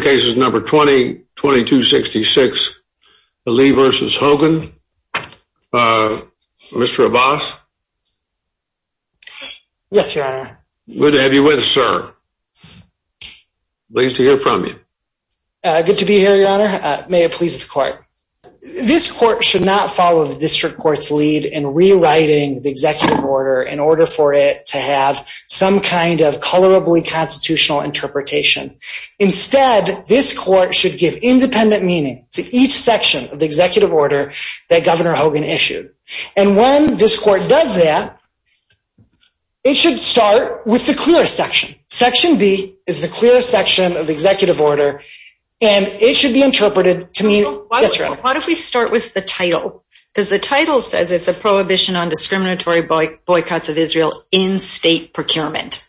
2266 Ali v. Hogan This court should give independent meaning to each section of the executive order that Governor Hogan issued. And when this court does that, it should start with the clearest section. Section B is the clearest section of the executive order and it should be interpreted to mean Israel. Why don't we start with the title because the title says it's a prohibition on discriminatory boycotts of Israel in state procurement.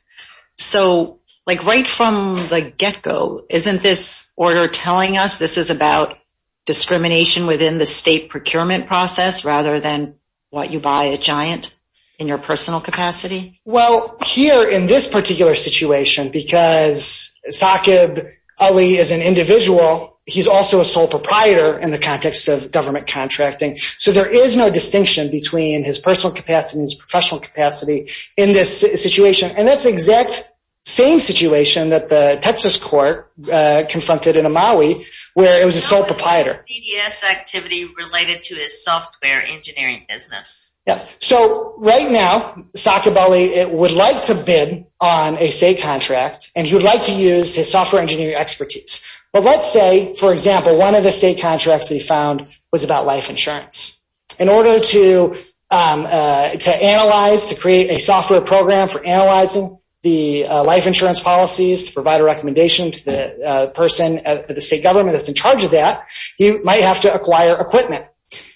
So right from the get-go, isn't this order telling us this is about discrimination within the state procurement process rather than what you buy a giant in your personal capacity? Well here in this particular situation because Saqib Ali is an individual, he's also a sole proprietor in the context of government contracting. So there is no distinction between his personal capacity and his professional capacity in this situation. And that's the exact same situation that the Texas court confronted in Amaui where it was a sole proprietor. How is his PDS activity related to his software engineering business? So right now Saqib Ali would like to bid on a state contract and he would like to use his software engineering expertise. But let's say, for example, one of the state contracts that he found was about life insurance. In order to analyze, to create a software program for analyzing the life insurance policies to provide a recommendation to the person, the state government that's in charge of that, he might have to acquire equipment.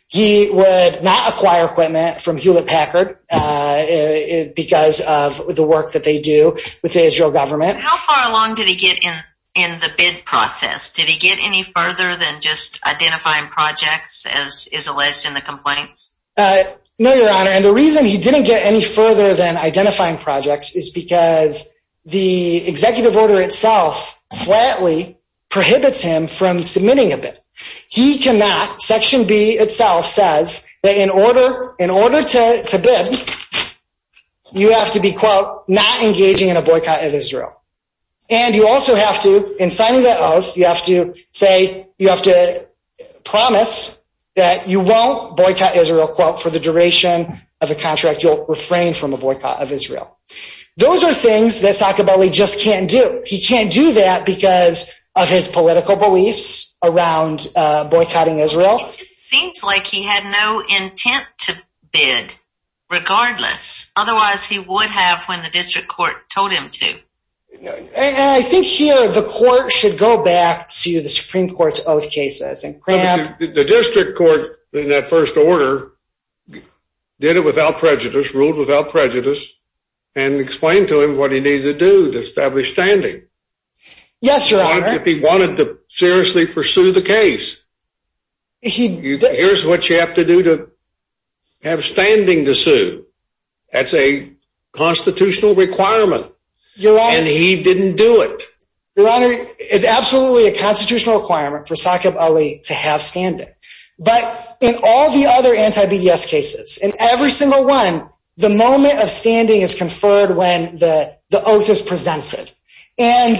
He would not acquire equipment from Hewlett Packard because of the work that they do with the Israel government. How far along did he get in the bid process? Did he get any further than just identifying projects as is alleged in the complaints? No, Your Honor. And the reason he didn't get any further than identifying projects is because the executive order itself flatly prohibits him from submitting a bid. He cannot, Section B itself says, that in order to bid, you have to be, quote, not engaging in a boycott of Israel. And you also have to, in signing that oath, you have to say, you have to promise that you won't boycott Israel, quote, for the duration of the contract. You'll refrain from a boycott of Israel. Those are things that Saccabelli just can't do. He can't do that because of his political beliefs around boycotting Israel. It just seems like he had no intent to bid, regardless. Otherwise, he would have when the district court told him to. And I think here the court should go back to the Supreme Court's oath cases. The district court, in that first order, did it without prejudice, ruled without prejudice, and explained to him what he needed to do to establish standing. Yes, Your Honor. If he wanted to seriously pursue the case, here's what you have to do to have standing to sue. That's a constitutional requirement. And he didn't do it. Your Honor, it's absolutely a constitutional requirement for Saccabelli to have standing. But in all the other anti-BDS cases, in every single one, the moment of standing is conferred when the oath is presented. And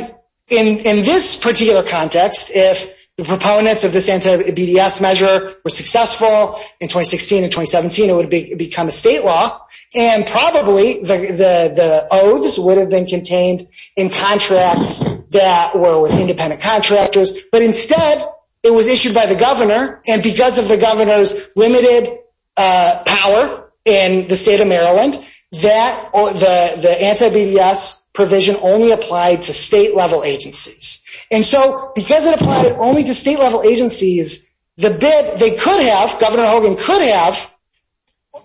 in this particular context, if the proponents of this anti-BDS measure were successful in the state law, and probably the oaths would have been contained in contracts that were with independent contractors. But instead, it was issued by the governor. And because of the governor's limited power in the state of Maryland, the anti-BDS provision only applied to state-level agencies. And so because it applied only to state-level agencies, the bid they could have, Governor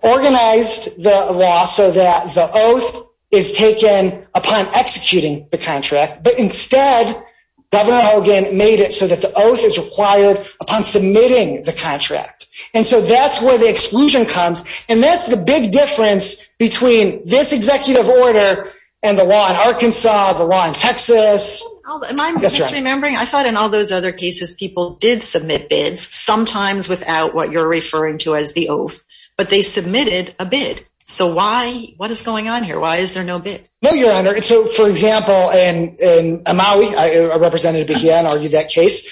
organized the law so that the oath is taken upon executing the contract. But instead, Governor Hogan made it so that the oath is required upon submitting the contract. And so that's where the exclusion comes. And that's the big difference between this executive order and the law in Arkansas, the law in Texas. Am I misremembering? I thought in all those other cases, people did submit bids, sometimes without what you're referring to as the oath. But they submitted a bid. So why? What is going on here? Why is there no bid? No, Your Honor. So, for example, in Amaui, Representative McGeehan argued that case.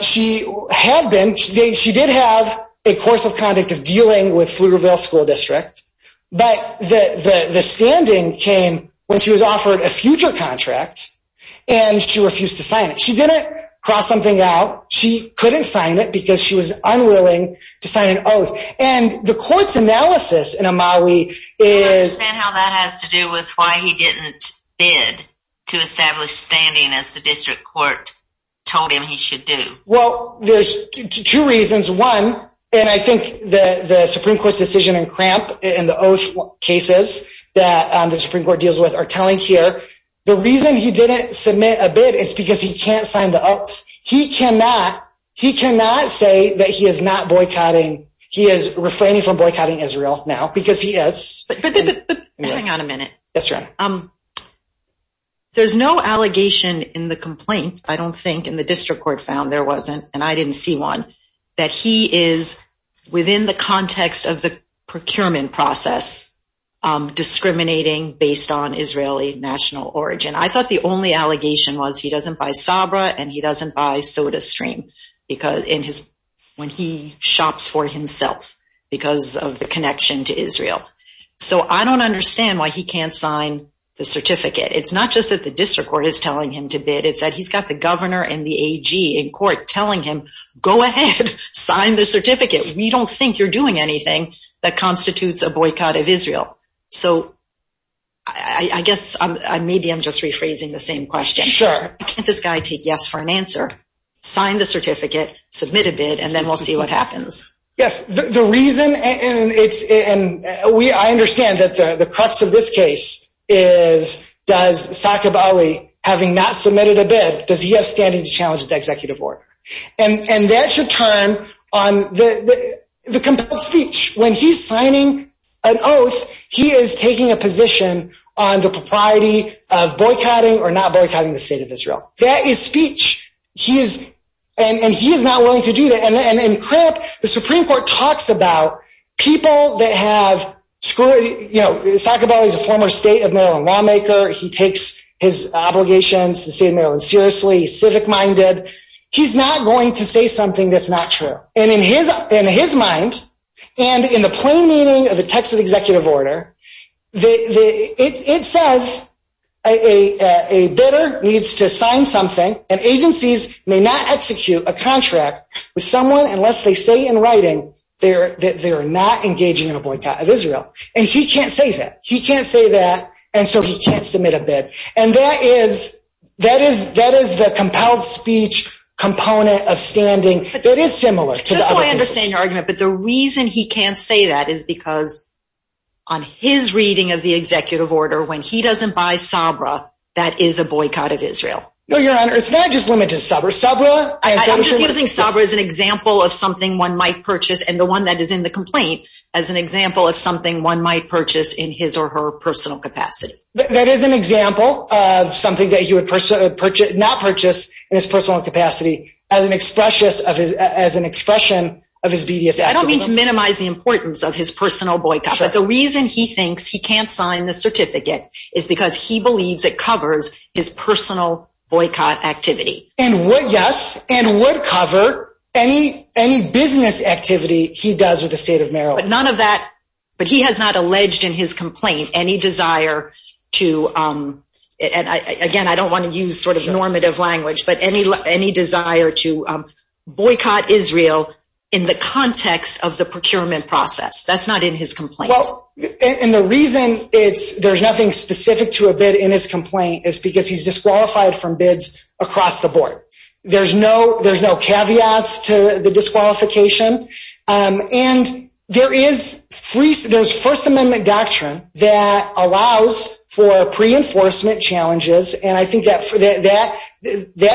She did have a course of conduct of dealing with Pflugerville School District. But the standing came when she was offered a future contract, and she refused to sign it. She didn't cross something out. She couldn't sign it because she was unwilling to sign an oath. And the court's analysis in Amaui is... I don't understand how that has to do with why he didn't bid to establish standing as the district court told him he should do. Well, there's two reasons. One, and I think the Supreme Court's decision in Cramp and the oath cases that the Supreme Court deals with are telling here. The reason he didn't submit a bid is because he can't sign the oath. He cannot say that he is not boycotting. He is refraining from boycotting Israel now because he is. But hang on a minute. Yes, Your Honor. There's no allegation in the complaint, I don't think, in the district court found, there wasn't, and I didn't see one, that he is, within the context of the procurement process, discriminating based on Israeli national origin. I thought the only allegation was he doesn't buy Sabra and he doesn't buy SodaStream when he shops for himself because of the connection to Israel. So I don't understand why he can't sign the certificate. It's not just that the district court is telling him to bid. It's that he's got the governor and the AG in court telling him, go ahead, sign the certificate. We don't think you're doing anything that constitutes a boycott of Israel. So I guess maybe I'm just rephrasing the same question. Sure. Can't this guy take yes for an answer, sign the certificate, submit a bid, and then we'll see what happens. Yes. The reason, and I understand that the crux of this case is, does Saqib Ali, having not submitted a bid, does he have standing to challenge the executive order? And that should turn on the compelled speech. When he's signing an oath, he is taking a position on the propriety of boycotting or not boycotting the state of Israel. That is speech. And he is not willing to do that. And in Crip, the Supreme Court talks about people that have, you know, Saqib Ali is a former state of Maryland lawmaker. He takes his obligations to the state of Maryland seriously. He's civic-minded. He's not going to say something that's not true. And in his mind, and in the plain meaning of the text of the executive order, it says a bidder needs to sign something, and agencies may not execute a contract with someone unless they say in writing that they are not engaging in a boycott of Israel. And he can't say that. He can't say that, and so he can't submit a bid. And that is the compelled speech component of standing. It is similar to the other pieces. Just so I understand your argument, but the reason he can't say that is because on his reading of the executive order, when he doesn't buy Sabra, that is a boycott of Israel. No, Your Honor. It's not just limited Sabra. I'm just using Sabra as an example of something one might purchase, and the one that is in the complaint as an example of something one might purchase in his or her personal capacity. That is an example of something that he would not purchase in his personal capacity as an expression of his bevious activism. I don't mean to minimize the importance of his personal boycott, but the reason he thinks he can't sign the certificate is because he believes it covers his personal boycott activity. And would, yes, and would cover any business activity he does with the state of Maryland. But none of that, but he has not alleged in his complaint any desire to, and again, I boycott Israel in the context of the procurement process. That's not in his complaint. And the reason there's nothing specific to a bid in his complaint is because he's disqualified from bids across the board. There's no caveats to the disqualification. And there is First Amendment doctrine that allows for pre-enforcement challenges, and I think that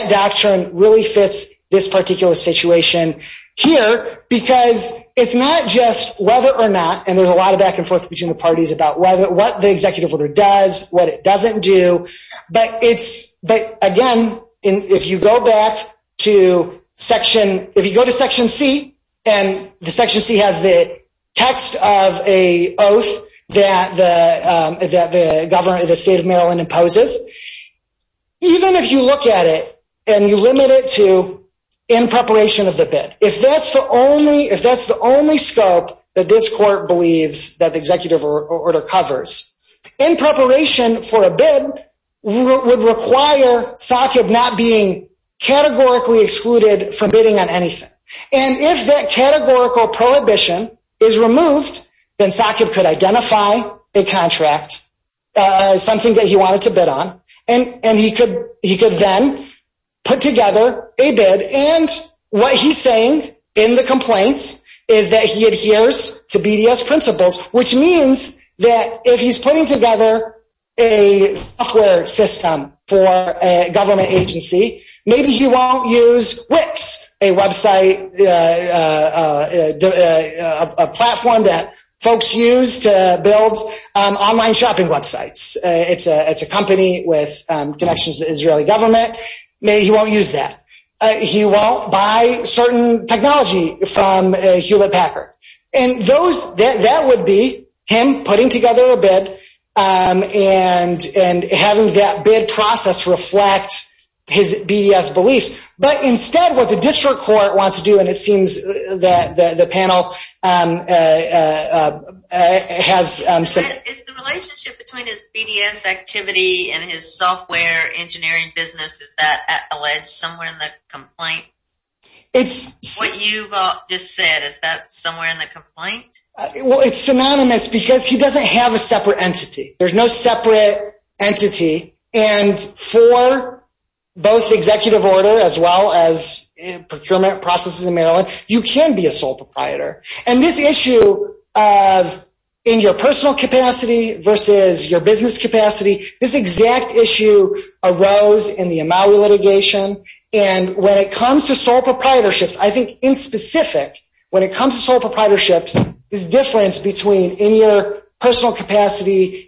doctrine really fits this particular situation here because it's not just whether or not, and there's a lot of back and forth between the parties about what the executive order does, what it doesn't do. But it's, but again, if you go back to Section, if you go to Section C, and the Section C has the text of a oath that the governor of the state of Maryland imposes, even if you look at it and you limit it to in preparation of the bid, if that's the only, if that's the only scope that this court believes that the executive order covers, in preparation for a bid would require SACIB not being categorically excluded from bidding on anything. And if that categorical prohibition is removed, then SACIB could identify a contract, something that he wanted to bid on, and he could then put together a bid. And what he's saying in the complaints is that he adheres to BDS principles, which means that if he's putting together a software system for a government agency, maybe he won't use a website, a platform that folks use to build online shopping websites. It's a company with connections to the Israeli government. Maybe he won't use that. He won't buy certain technology from Hewlett Packard. And those, that would be him putting together a bid and having that bid process reflect his BDS beliefs. But instead, what the district court wants to do, and it seems that the panel has... Is the relationship between his BDS activity and his software engineering business, is that alleged somewhere in the complaint? What you've just said, is that somewhere in the complaint? Well, it's synonymous because he doesn't have a separate entity. There's no separate entity. And for both executive order as well as procurement processes in Maryland, you can be a sole proprietor. And this issue of in your personal capacity versus your business capacity, this exact issue arose in the Amaui litigation. And when it comes to sole proprietorships, I think in specific, when it comes to sole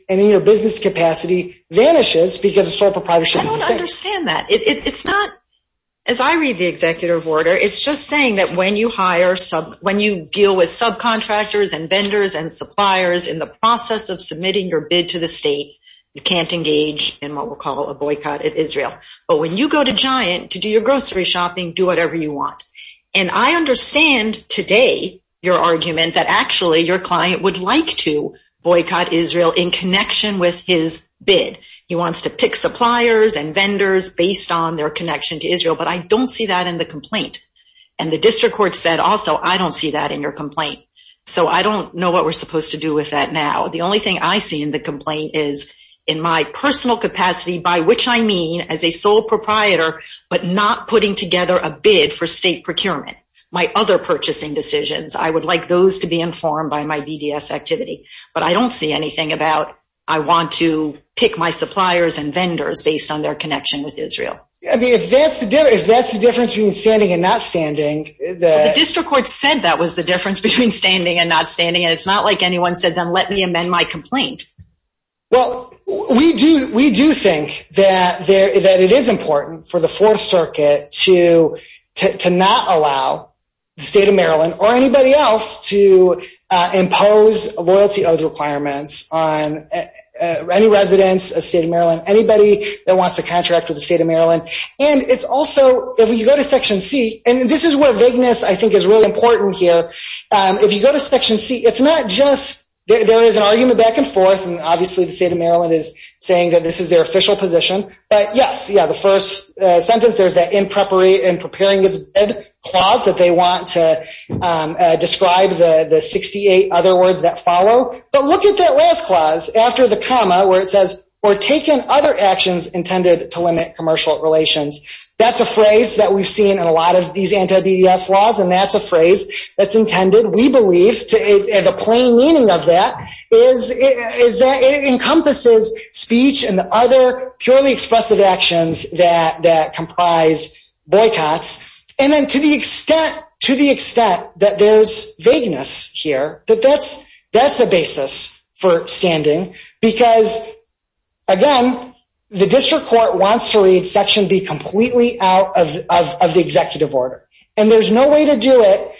And in your business capacity vanishes because a sole proprietorship is the same. I don't understand that. As I read the executive order, it's just saying that when you deal with subcontractors and vendors and suppliers in the process of submitting your bid to the state, you can't engage in what we'll call a boycott of Israel. But when you go to Giant to do your grocery shopping, do whatever you want. And I understand today your argument that actually your client would like to boycott Israel in connection with his bid. He wants to pick suppliers and vendors based on their connection to Israel. But I don't see that in the complaint. And the district court said also, I don't see that in your complaint. So I don't know what we're supposed to do with that now. The only thing I see in the complaint is in my personal capacity, by which I mean as a sole proprietor, but not putting together a bid for state procurement. My other purchasing decisions, I would like those to be informed by my BDS activity. But I don't see anything about, I want to pick my suppliers and vendors based on their connection with Israel. If that's the difference between standing and not standing... The district court said that was the difference between standing and not standing, and it's not like anyone said, then let me amend my complaint. Well, we do think that it is important for the Fourth Circuit to not allow the state of Maryland or anybody else to impose loyalty oath requirements on any residents of state of Maryland, anybody that wants to contract with the state of Maryland. And it's also, if you go to Section C, and this is where vagueness I think is really important here. If you go to Section C, it's not just, there is an argument back and forth, and obviously the state of Maryland is saying that this is their official position. But yes, yeah, the first sentence, there's that in preparing its bid clause that they want to describe the 68 other words that follow. But look at that last clause after the comma where it says, for taking other actions intended to limit commercial relations. That's a phrase that we've seen in a lot of these anti-BDS laws, and that's a phrase that's intended, we believe, and the plain meaning of that is that it encompasses speech and the other purely expressive actions that comprise boycotts. And then to the extent, to the extent that there's vagueness here, that that's a basis for standing because, again, the district court wants to read Section B completely out of the executive order. And there's no way to do it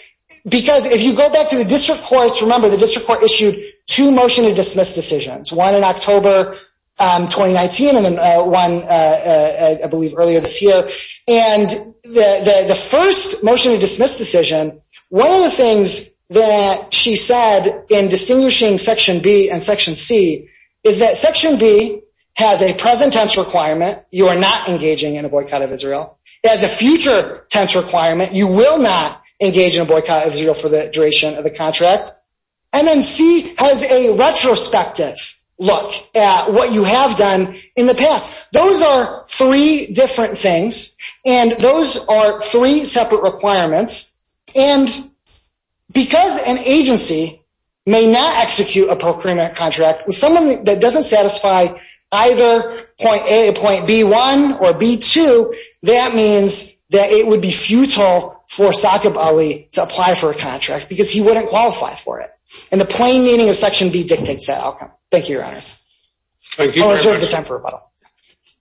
because if you go back to the district courts, remember the district court issued two motion to dismiss decisions. One in October 2019 and one, I believe, earlier this year. And the first motion to dismiss decision, one of the things that she said in distinguishing Section B and Section C is that Section B has a present tense requirement, you are not engaging in a boycott of Israel. It has a future tense requirement, you will not engage in a boycott of Israel for the duration of the contract. And then C has a retrospective look at what you have done in the past. Those are three different things, and those are three separate requirements, and because an agency may not execute a procurement contract with someone that doesn't satisfy either point A, point B1, or B2, that means that it would be futile for Saqib Ali to apply for a contract because he wouldn't qualify for it. And the plain meaning of Section B dictates that outcome. Thank you, Your Honors. I'm sure we have time for a rebuttal.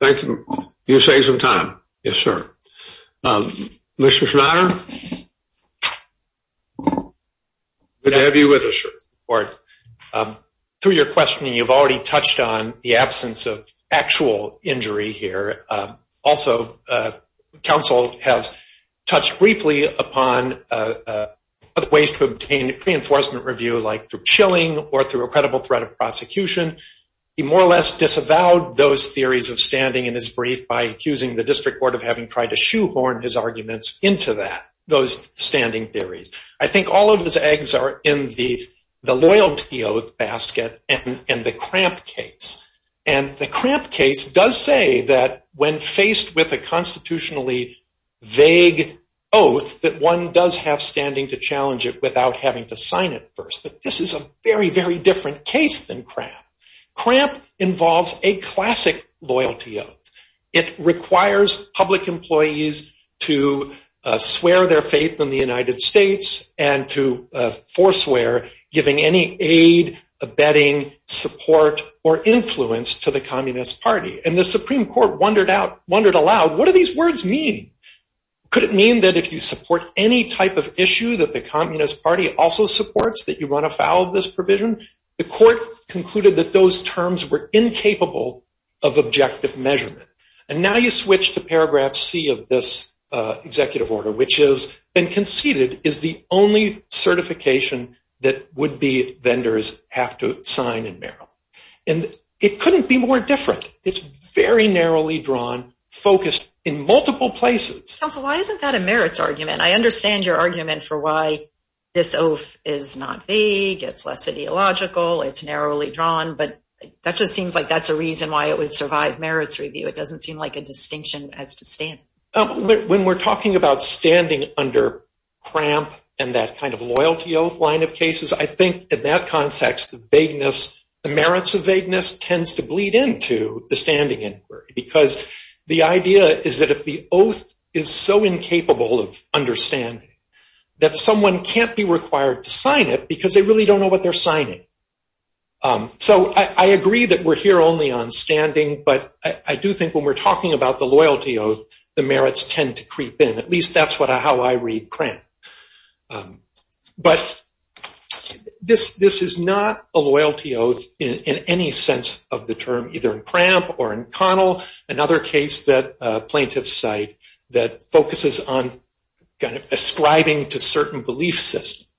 Thank you. You saved some time. Yes, sir. Mr. Schneider? Good to have you with us, sir. Through your questioning, you've already touched on the absence of actual injury here. Also, counsel has touched briefly upon other ways to obtain a reinforcement review, like through chilling or through a credible threat of prosecution. He more or less disavowed those theories of standing in his brief by accusing the district court of having tried to shoehorn his arguments into that, those standing theories. I think all of his eggs are in the loyalty oath basket and the cramp case. And the cramp case does say that when faced with a constitutionally vague oath, that one does have standing to challenge it without having to sign it first. But this is a very, very different case than cramp. Cramp involves a classic loyalty oath. It requires public employees to swear their faith in the United States and to forswear giving any aid, abetting, support, or influence to the Communist Party. And the Supreme Court wondered aloud, what do these words mean? Could it mean that if you support any type of issue that the Communist Party also supports, that you run afoul of this provision? The court concluded that those terms were incapable of objective measurement. And now you switch to paragraph C of this executive order, which is, is the only certification that would-be vendors have to sign in Maryland. And it couldn't be more different. It's very narrowly drawn, focused in multiple places. Counsel, why isn't that a merits argument? I understand your argument for why this oath is not vague. It's less ideological. It's narrowly drawn. But that just seems like that's a reason why it would survive merits review. It doesn't seem like a distinction as to standing. When we're talking about standing under cramp and that kind of loyalty oath line of cases, I think in that context, vagueness, the merits of vagueness tends to bleed into the standing inquiry. Because the idea is that if the oath is so incapable of understanding, that someone can't be required to sign it because they really don't know what they're signing. So I agree that we're here only on standing. But I do think when we're talking about the loyalty oath, the merits tend to creep in. At least that's how I read cramp. But this is not a loyalty oath in any sense of the term, either in cramp or in conal, another case that plaintiffs cite that focuses on kind of ascribing to certain belief systems.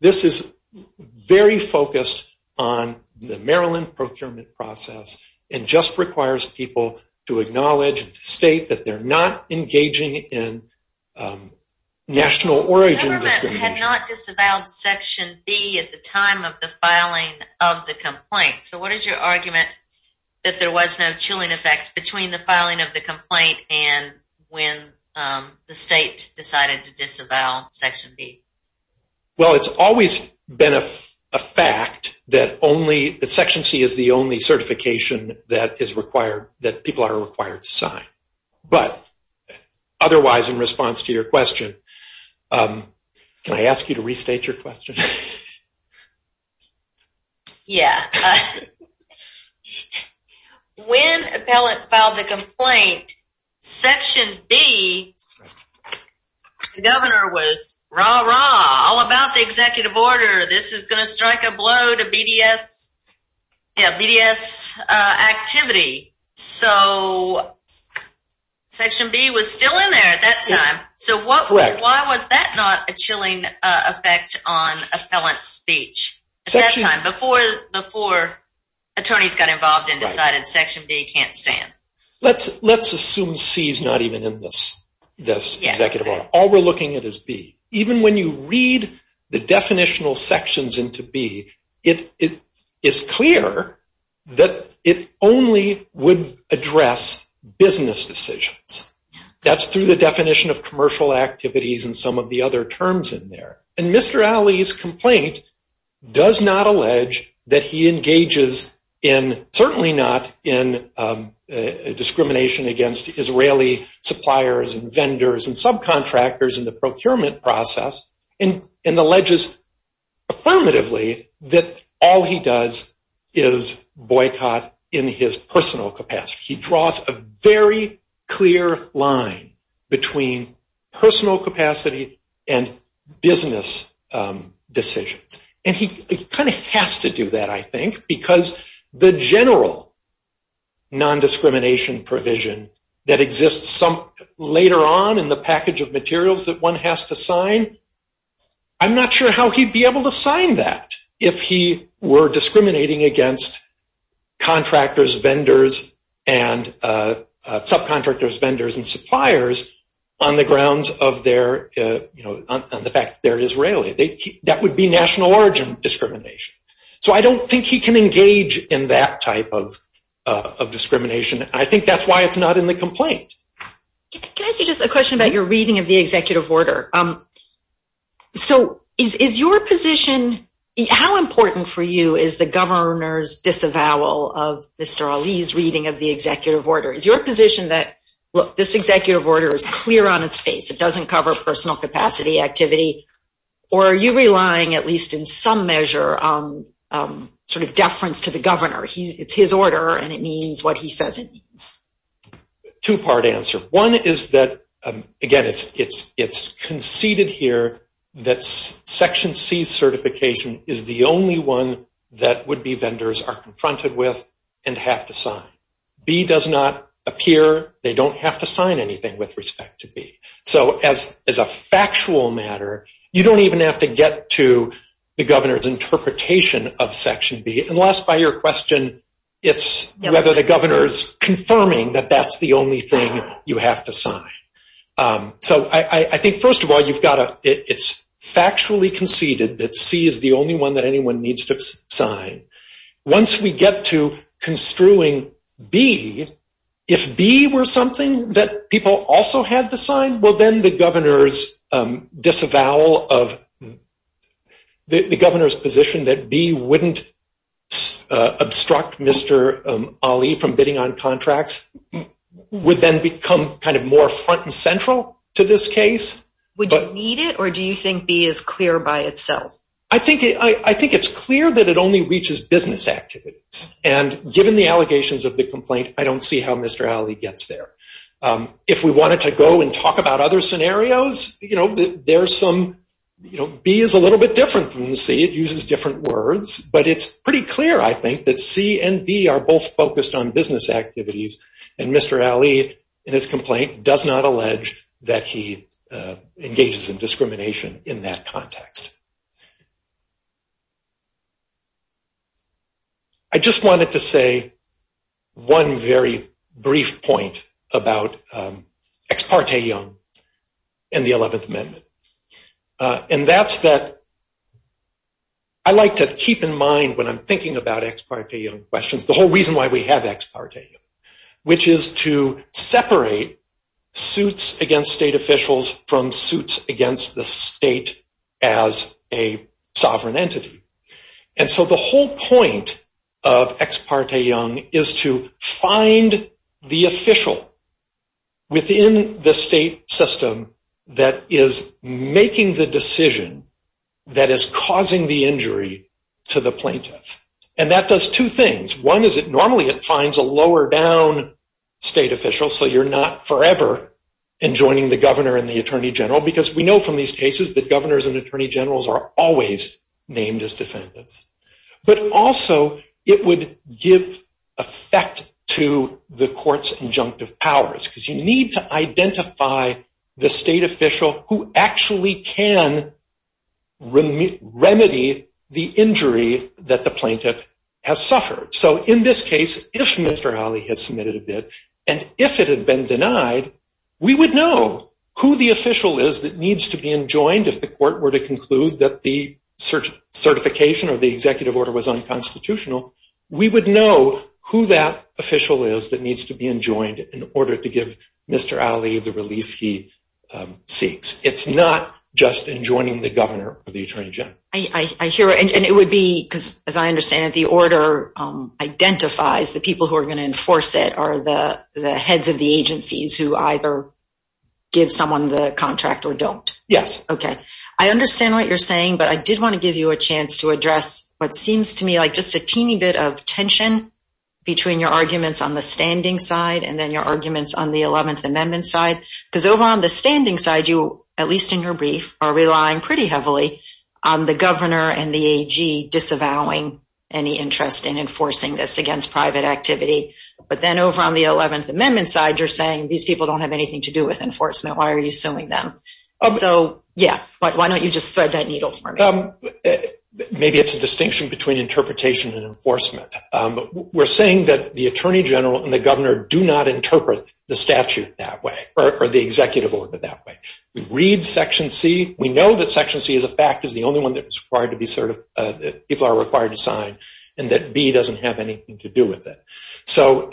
This is very focused on the Maryland procurement process and just requires people to acknowledge and to state that they're not engaging in national origin discrimination. The government had not disavowed Section B at the time of the filing of the complaint. So what is your argument that there was no chilling effect between the filing of the complaint and when the state decided to disavow Section B? Well, it's always been a fact that Section C is the only certification that people are required to sign. But otherwise, in response to your question, can I ask you to restate your question? Yeah. When appellant filed the complaint, Section B, the governor was rah, rah, all about the executive order. This is going to strike a blow to BDS activity. So Section B was still in there at that time. So why was that not a chilling effect on appellant's speech at that time, before attorneys got involved and decided Section B can't stand? Let's assume C is not even in this executive order. All we're looking at is B. Even when you read the definitional sections into B, it is clear that it only would address business decisions. That's through the definition of commercial activities and some of the other terms in there. And Mr. Ali's complaint does not allege that he engages in, certainly not in discrimination against Israeli suppliers and vendors and subcontractors in the procurement process, and alleges affirmatively that all he does is boycott in his personal capacity. He draws a very clear line between personal capacity and business decisions. And he kind of has to do that, I think, because the general nondiscrimination provision that exists later on in the package of materials that one has to sign, I'm not sure how he'd be able to sign that if he were discriminating against contractors, vendors, and subcontractors, vendors, and suppliers on the grounds of the fact that they're Israeli. That would be national origin discrimination. So I don't think he can engage in that type of discrimination. I think that's why it's not in the complaint. Can I ask you just a question about your reading of the executive order? So is your position, how important for you is the governor's disavowal of Mr. Ali's reading of the executive order? Is your position that, look, this executive order is clear on its face, it doesn't cover personal capacity activity, or are you relying at least in some measure on sort of deference to the governor? It's his order and it means what he says it means. Two-part answer. One is that, again, it's conceded here that Section C certification is the only one that would-be vendors are confronted with and have to sign. B does not appear. They don't have to sign anything with respect to B. So as a factual matter, you don't even have to get to the governor's interpretation of Section B, unless by your question it's whether the governor's confirming that that's the only thing you have to sign. So I think, first of all, it's factually conceded that C is the only one that anyone needs to sign. Once we get to construing B, if B were something that people also had to sign, well, then the governor's disavowal of-the governor's position that B wouldn't obstruct Mr. Ali from bidding on contracts would then become kind of more front and central to this case. Would you need it or do you think B is clear by itself? I think it's clear that it only reaches business activities. And given the allegations of the complaint, I don't see how Mr. Ali gets there. If we wanted to go and talk about other scenarios, B is a little bit different from C. It uses different words. But it's pretty clear, I think, that C and B are both focused on business activities and Mr. Ali, in his complaint, does not allege that he engages in discrimination in that context. I just wanted to say one very brief point about Ex parte Young and the 11th Amendment. And that's that I like to keep in mind when I'm thinking about Ex parte Young questions, the whole reason why we have Ex parte Young, which is to separate suits against state officials from suits against the state as a sovereign entity. And so the whole point of Ex parte Young is to find the official within the state system that is making the decision that is causing the injury to the plaintiff. And that does two things. One is that normally it finds a lower-down state official, so you're not forever enjoining the governor and the attorney general, because we know from these cases that governors and attorney generals are always named as defendants. But also it would give effect to the court's injunctive powers, because you need to identify the state official who actually can remedy the injury that the plaintiff has suffered. So in this case, if Mr. Ali had submitted a bid, and if it had been denied, we would know who the official is that needs to be enjoined if the court were to conclude that the certification of the executive order was unconstitutional. We would know who that official is that needs to be enjoined in order to give Mr. Ali the relief he seeks. It's not just enjoining the governor or the attorney general. And it would be because, as I understand it, the order identifies the people who are going to enforce it are the heads of the agencies who either give someone the contract or don't. Yes. Okay. I understand what you're saying, but I did want to give you a chance to address what seems to me like just a teeny bit of tension between your arguments on the standing side and then your arguments on the Eleventh Amendment side. Because over on the standing side, you, at least in your brief, are relying pretty heavily on the governor and the AG disavowing any interest in enforcing this against private activity. But then over on the Eleventh Amendment side, you're saying, these people don't have anything to do with enforcement. Why are you suing them? So, yeah. But why don't you just thread that needle for me? Maybe it's a distinction between interpretation and enforcement. We're saying that the attorney general and the governor do not interpret the statute that way or the executive order that way. We read Section C. We know that Section C is a fact. It's the only one that people are required to sign and that B doesn't have anything to do with it. So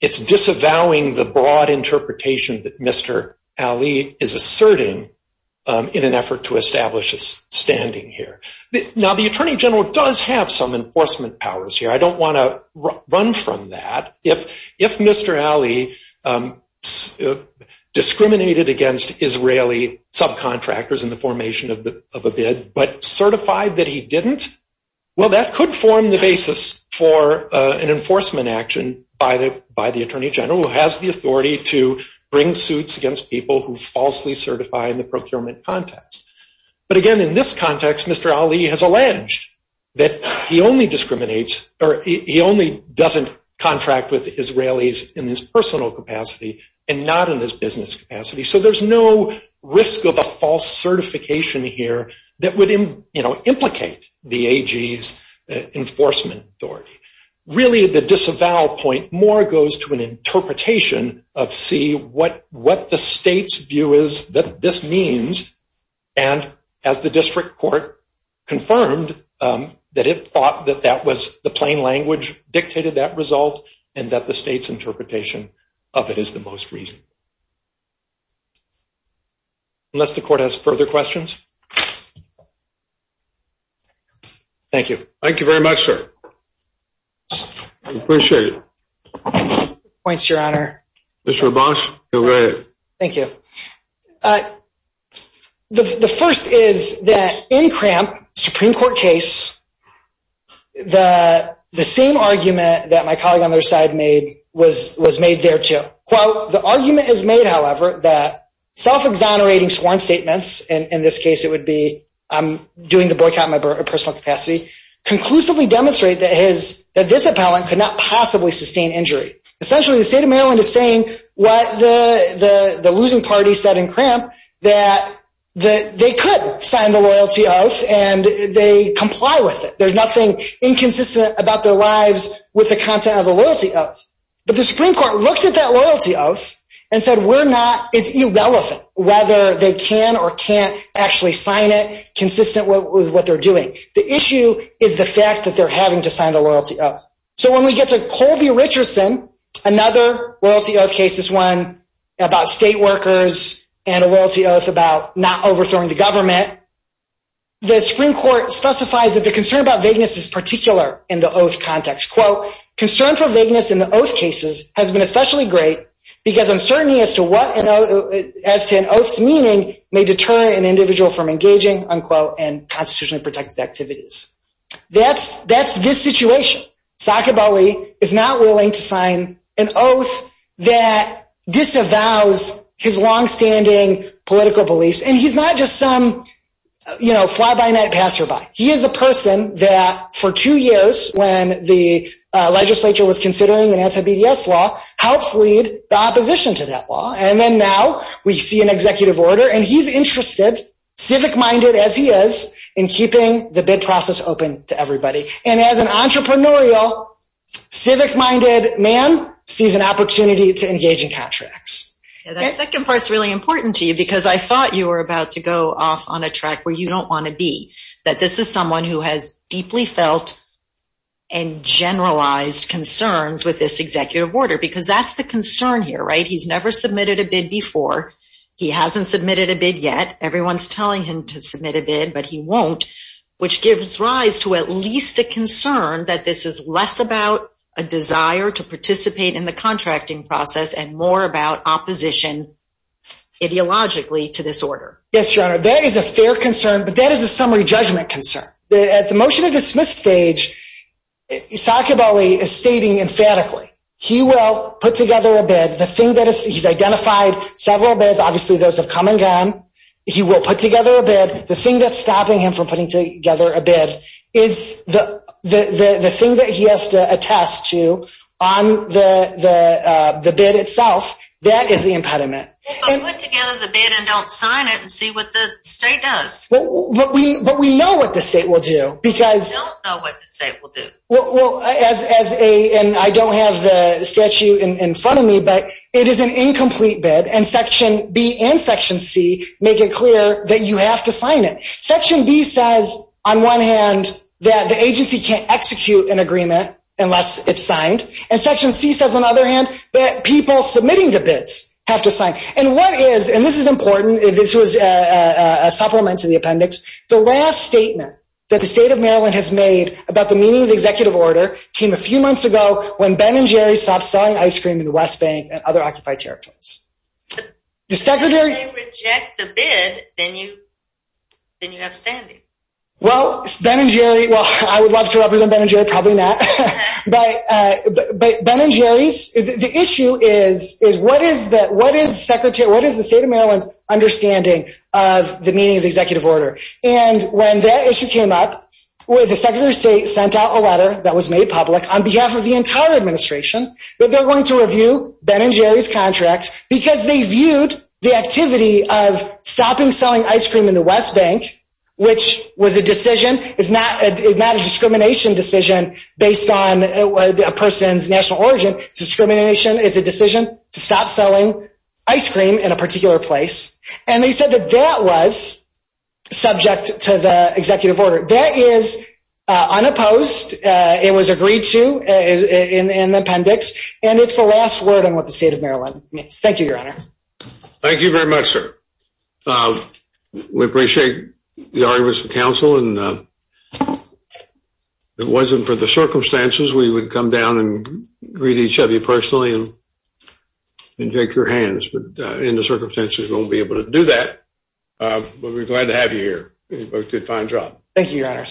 it's disavowing the broad interpretation that Mr. Ali is asserting in an effort to establish a standing here. Now, the attorney general does have some enforcement powers here. I don't want to run from that. If Mr. Ali discriminated against Israeli subcontractors in the formation of a bid but certified that he didn't, well, that could form the basis for an enforcement action by the attorney general, who has the authority to bring suits against people who falsely certify in the procurement context. But again, in this context, Mr. Ali has alleged that he only doesn't contract with Israelis in his personal capacity and not in his business capacity. So there's no risk of a false certification here that would implicate the AG's enforcement authority. Really, the disavow point more goes to an interpretation of C, what the state's view is that this means, and as the district court confirmed, that it thought that that was the plain language dictated that result and that the state's interpretation of it is the most reasonable. Unless the court has further questions? Thank you. Thank you very much, sir. I appreciate it. Points, Your Honor. Mr. LaBosche, go ahead. Thank you. The first is that in Cramp, Supreme Court case, the same argument that my colleague on the other side made was made there, too. Quote, the argument is made, however, that self-exonerating sworn statements, and in this case it would be I'm doing the boycott in my personal capacity, conclusively demonstrate that this appellant could not possibly sustain injury. Essentially, the state of Maryland is saying what the losing party said in Cramp, that they could sign the loyalty oath and they comply with it. There's nothing inconsistent about their lives with the content of the loyalty oath. But the Supreme Court looked at that loyalty oath and said we're not, it's irrelevant whether they can or can't actually sign it, consistent with what they're doing. The issue is the fact that they're having to sign the loyalty oath. So when we get to Colby Richardson, another loyalty oath case, this one about state workers and a loyalty oath about not overthrowing the government, the Supreme Court specifies that the concern about vagueness is particular in the oath context. Quote, concern for vagueness in the oath cases has been especially great because uncertainty as to an oath's meaning may deter an individual from engaging, unquote, in constitutionally protected activities. That's this situation. Saakib Ali is not willing to sign an oath that disavows his longstanding political beliefs. And he's not just some fly-by-night passerby. He is a person that for two years when the legislature was considering an anti-BDS law helped lead the opposition to that law. And then now we see an executive order and he's interested, civic-minded as he is, in keeping the bid process open to everybody. And as an entrepreneurial, civic-minded man sees an opportunity to engage in contracts. That second part is really important to you because I thought you were about to go off on a track where you don't want to be, that this is someone who has deeply felt and generalized concerns with this executive order because that's the concern here, right? He's never submitted a bid before. He hasn't submitted a bid yet. Everyone's telling him to submit a bid, but he won't, which gives rise to at least a concern that this is less about a desire to participate in the contracting process and more about opposition ideologically to this order. Yes, Your Honor, that is a fair concern, but that is a summary judgment concern. At the motion to dismiss stage, Saakib Ali is stating emphatically he will put together a bid. He's identified several bids. Obviously, those have come and gone. He will put together a bid. The thing that's stopping him from putting together a bid is the thing that he has to attest to on the bid itself. That is the impediment. But put together the bid and don't sign it and see what the state does. But we know what the state will do. I don't know what the state will do. I don't have the statute in front of me, but it is an incomplete bid. Section B and Section C make it clear that you have to sign it. Section B says, on one hand, that the agency can't execute an agreement unless it's signed. Section C says, on the other hand, that people submitting the bids have to sign. This is important. This was a supplement to the appendix. The last statement that the state of Maryland has made about the meaning of the executive order came a few months ago when Ben and Jerry stopped selling ice cream to the West Bank and other occupied territories. If you reject the bid, then you have standing. Well, I would love to represent Ben and Jerry. Probably not. The issue is, what is the state of Maryland's understanding of the meaning of the executive order? When that issue came up, the Secretary of State sent out a letter that was made public on behalf of the entire administration that they're going to review Ben and Jerry's contracts because they viewed the activity of stopping selling ice cream in the West Bank, which was a decision. It's not a discrimination decision based on a person's national origin. It's a decision to stop selling ice cream in a particular place. And they said that that was subject to the executive order. That is unopposed. It was agreed to in the appendix. And it's the last word on what the state of Maryland means. Thank you, Your Honor. Thank you very much, sir. We appreciate the arguments of counsel. And if it wasn't for the circumstances, we would come down and greet each of you personally and shake your hands. But in the circumstances, we won't be able to do that. But we're glad to have you here. You both did a fine job. Thank you, Your Honor.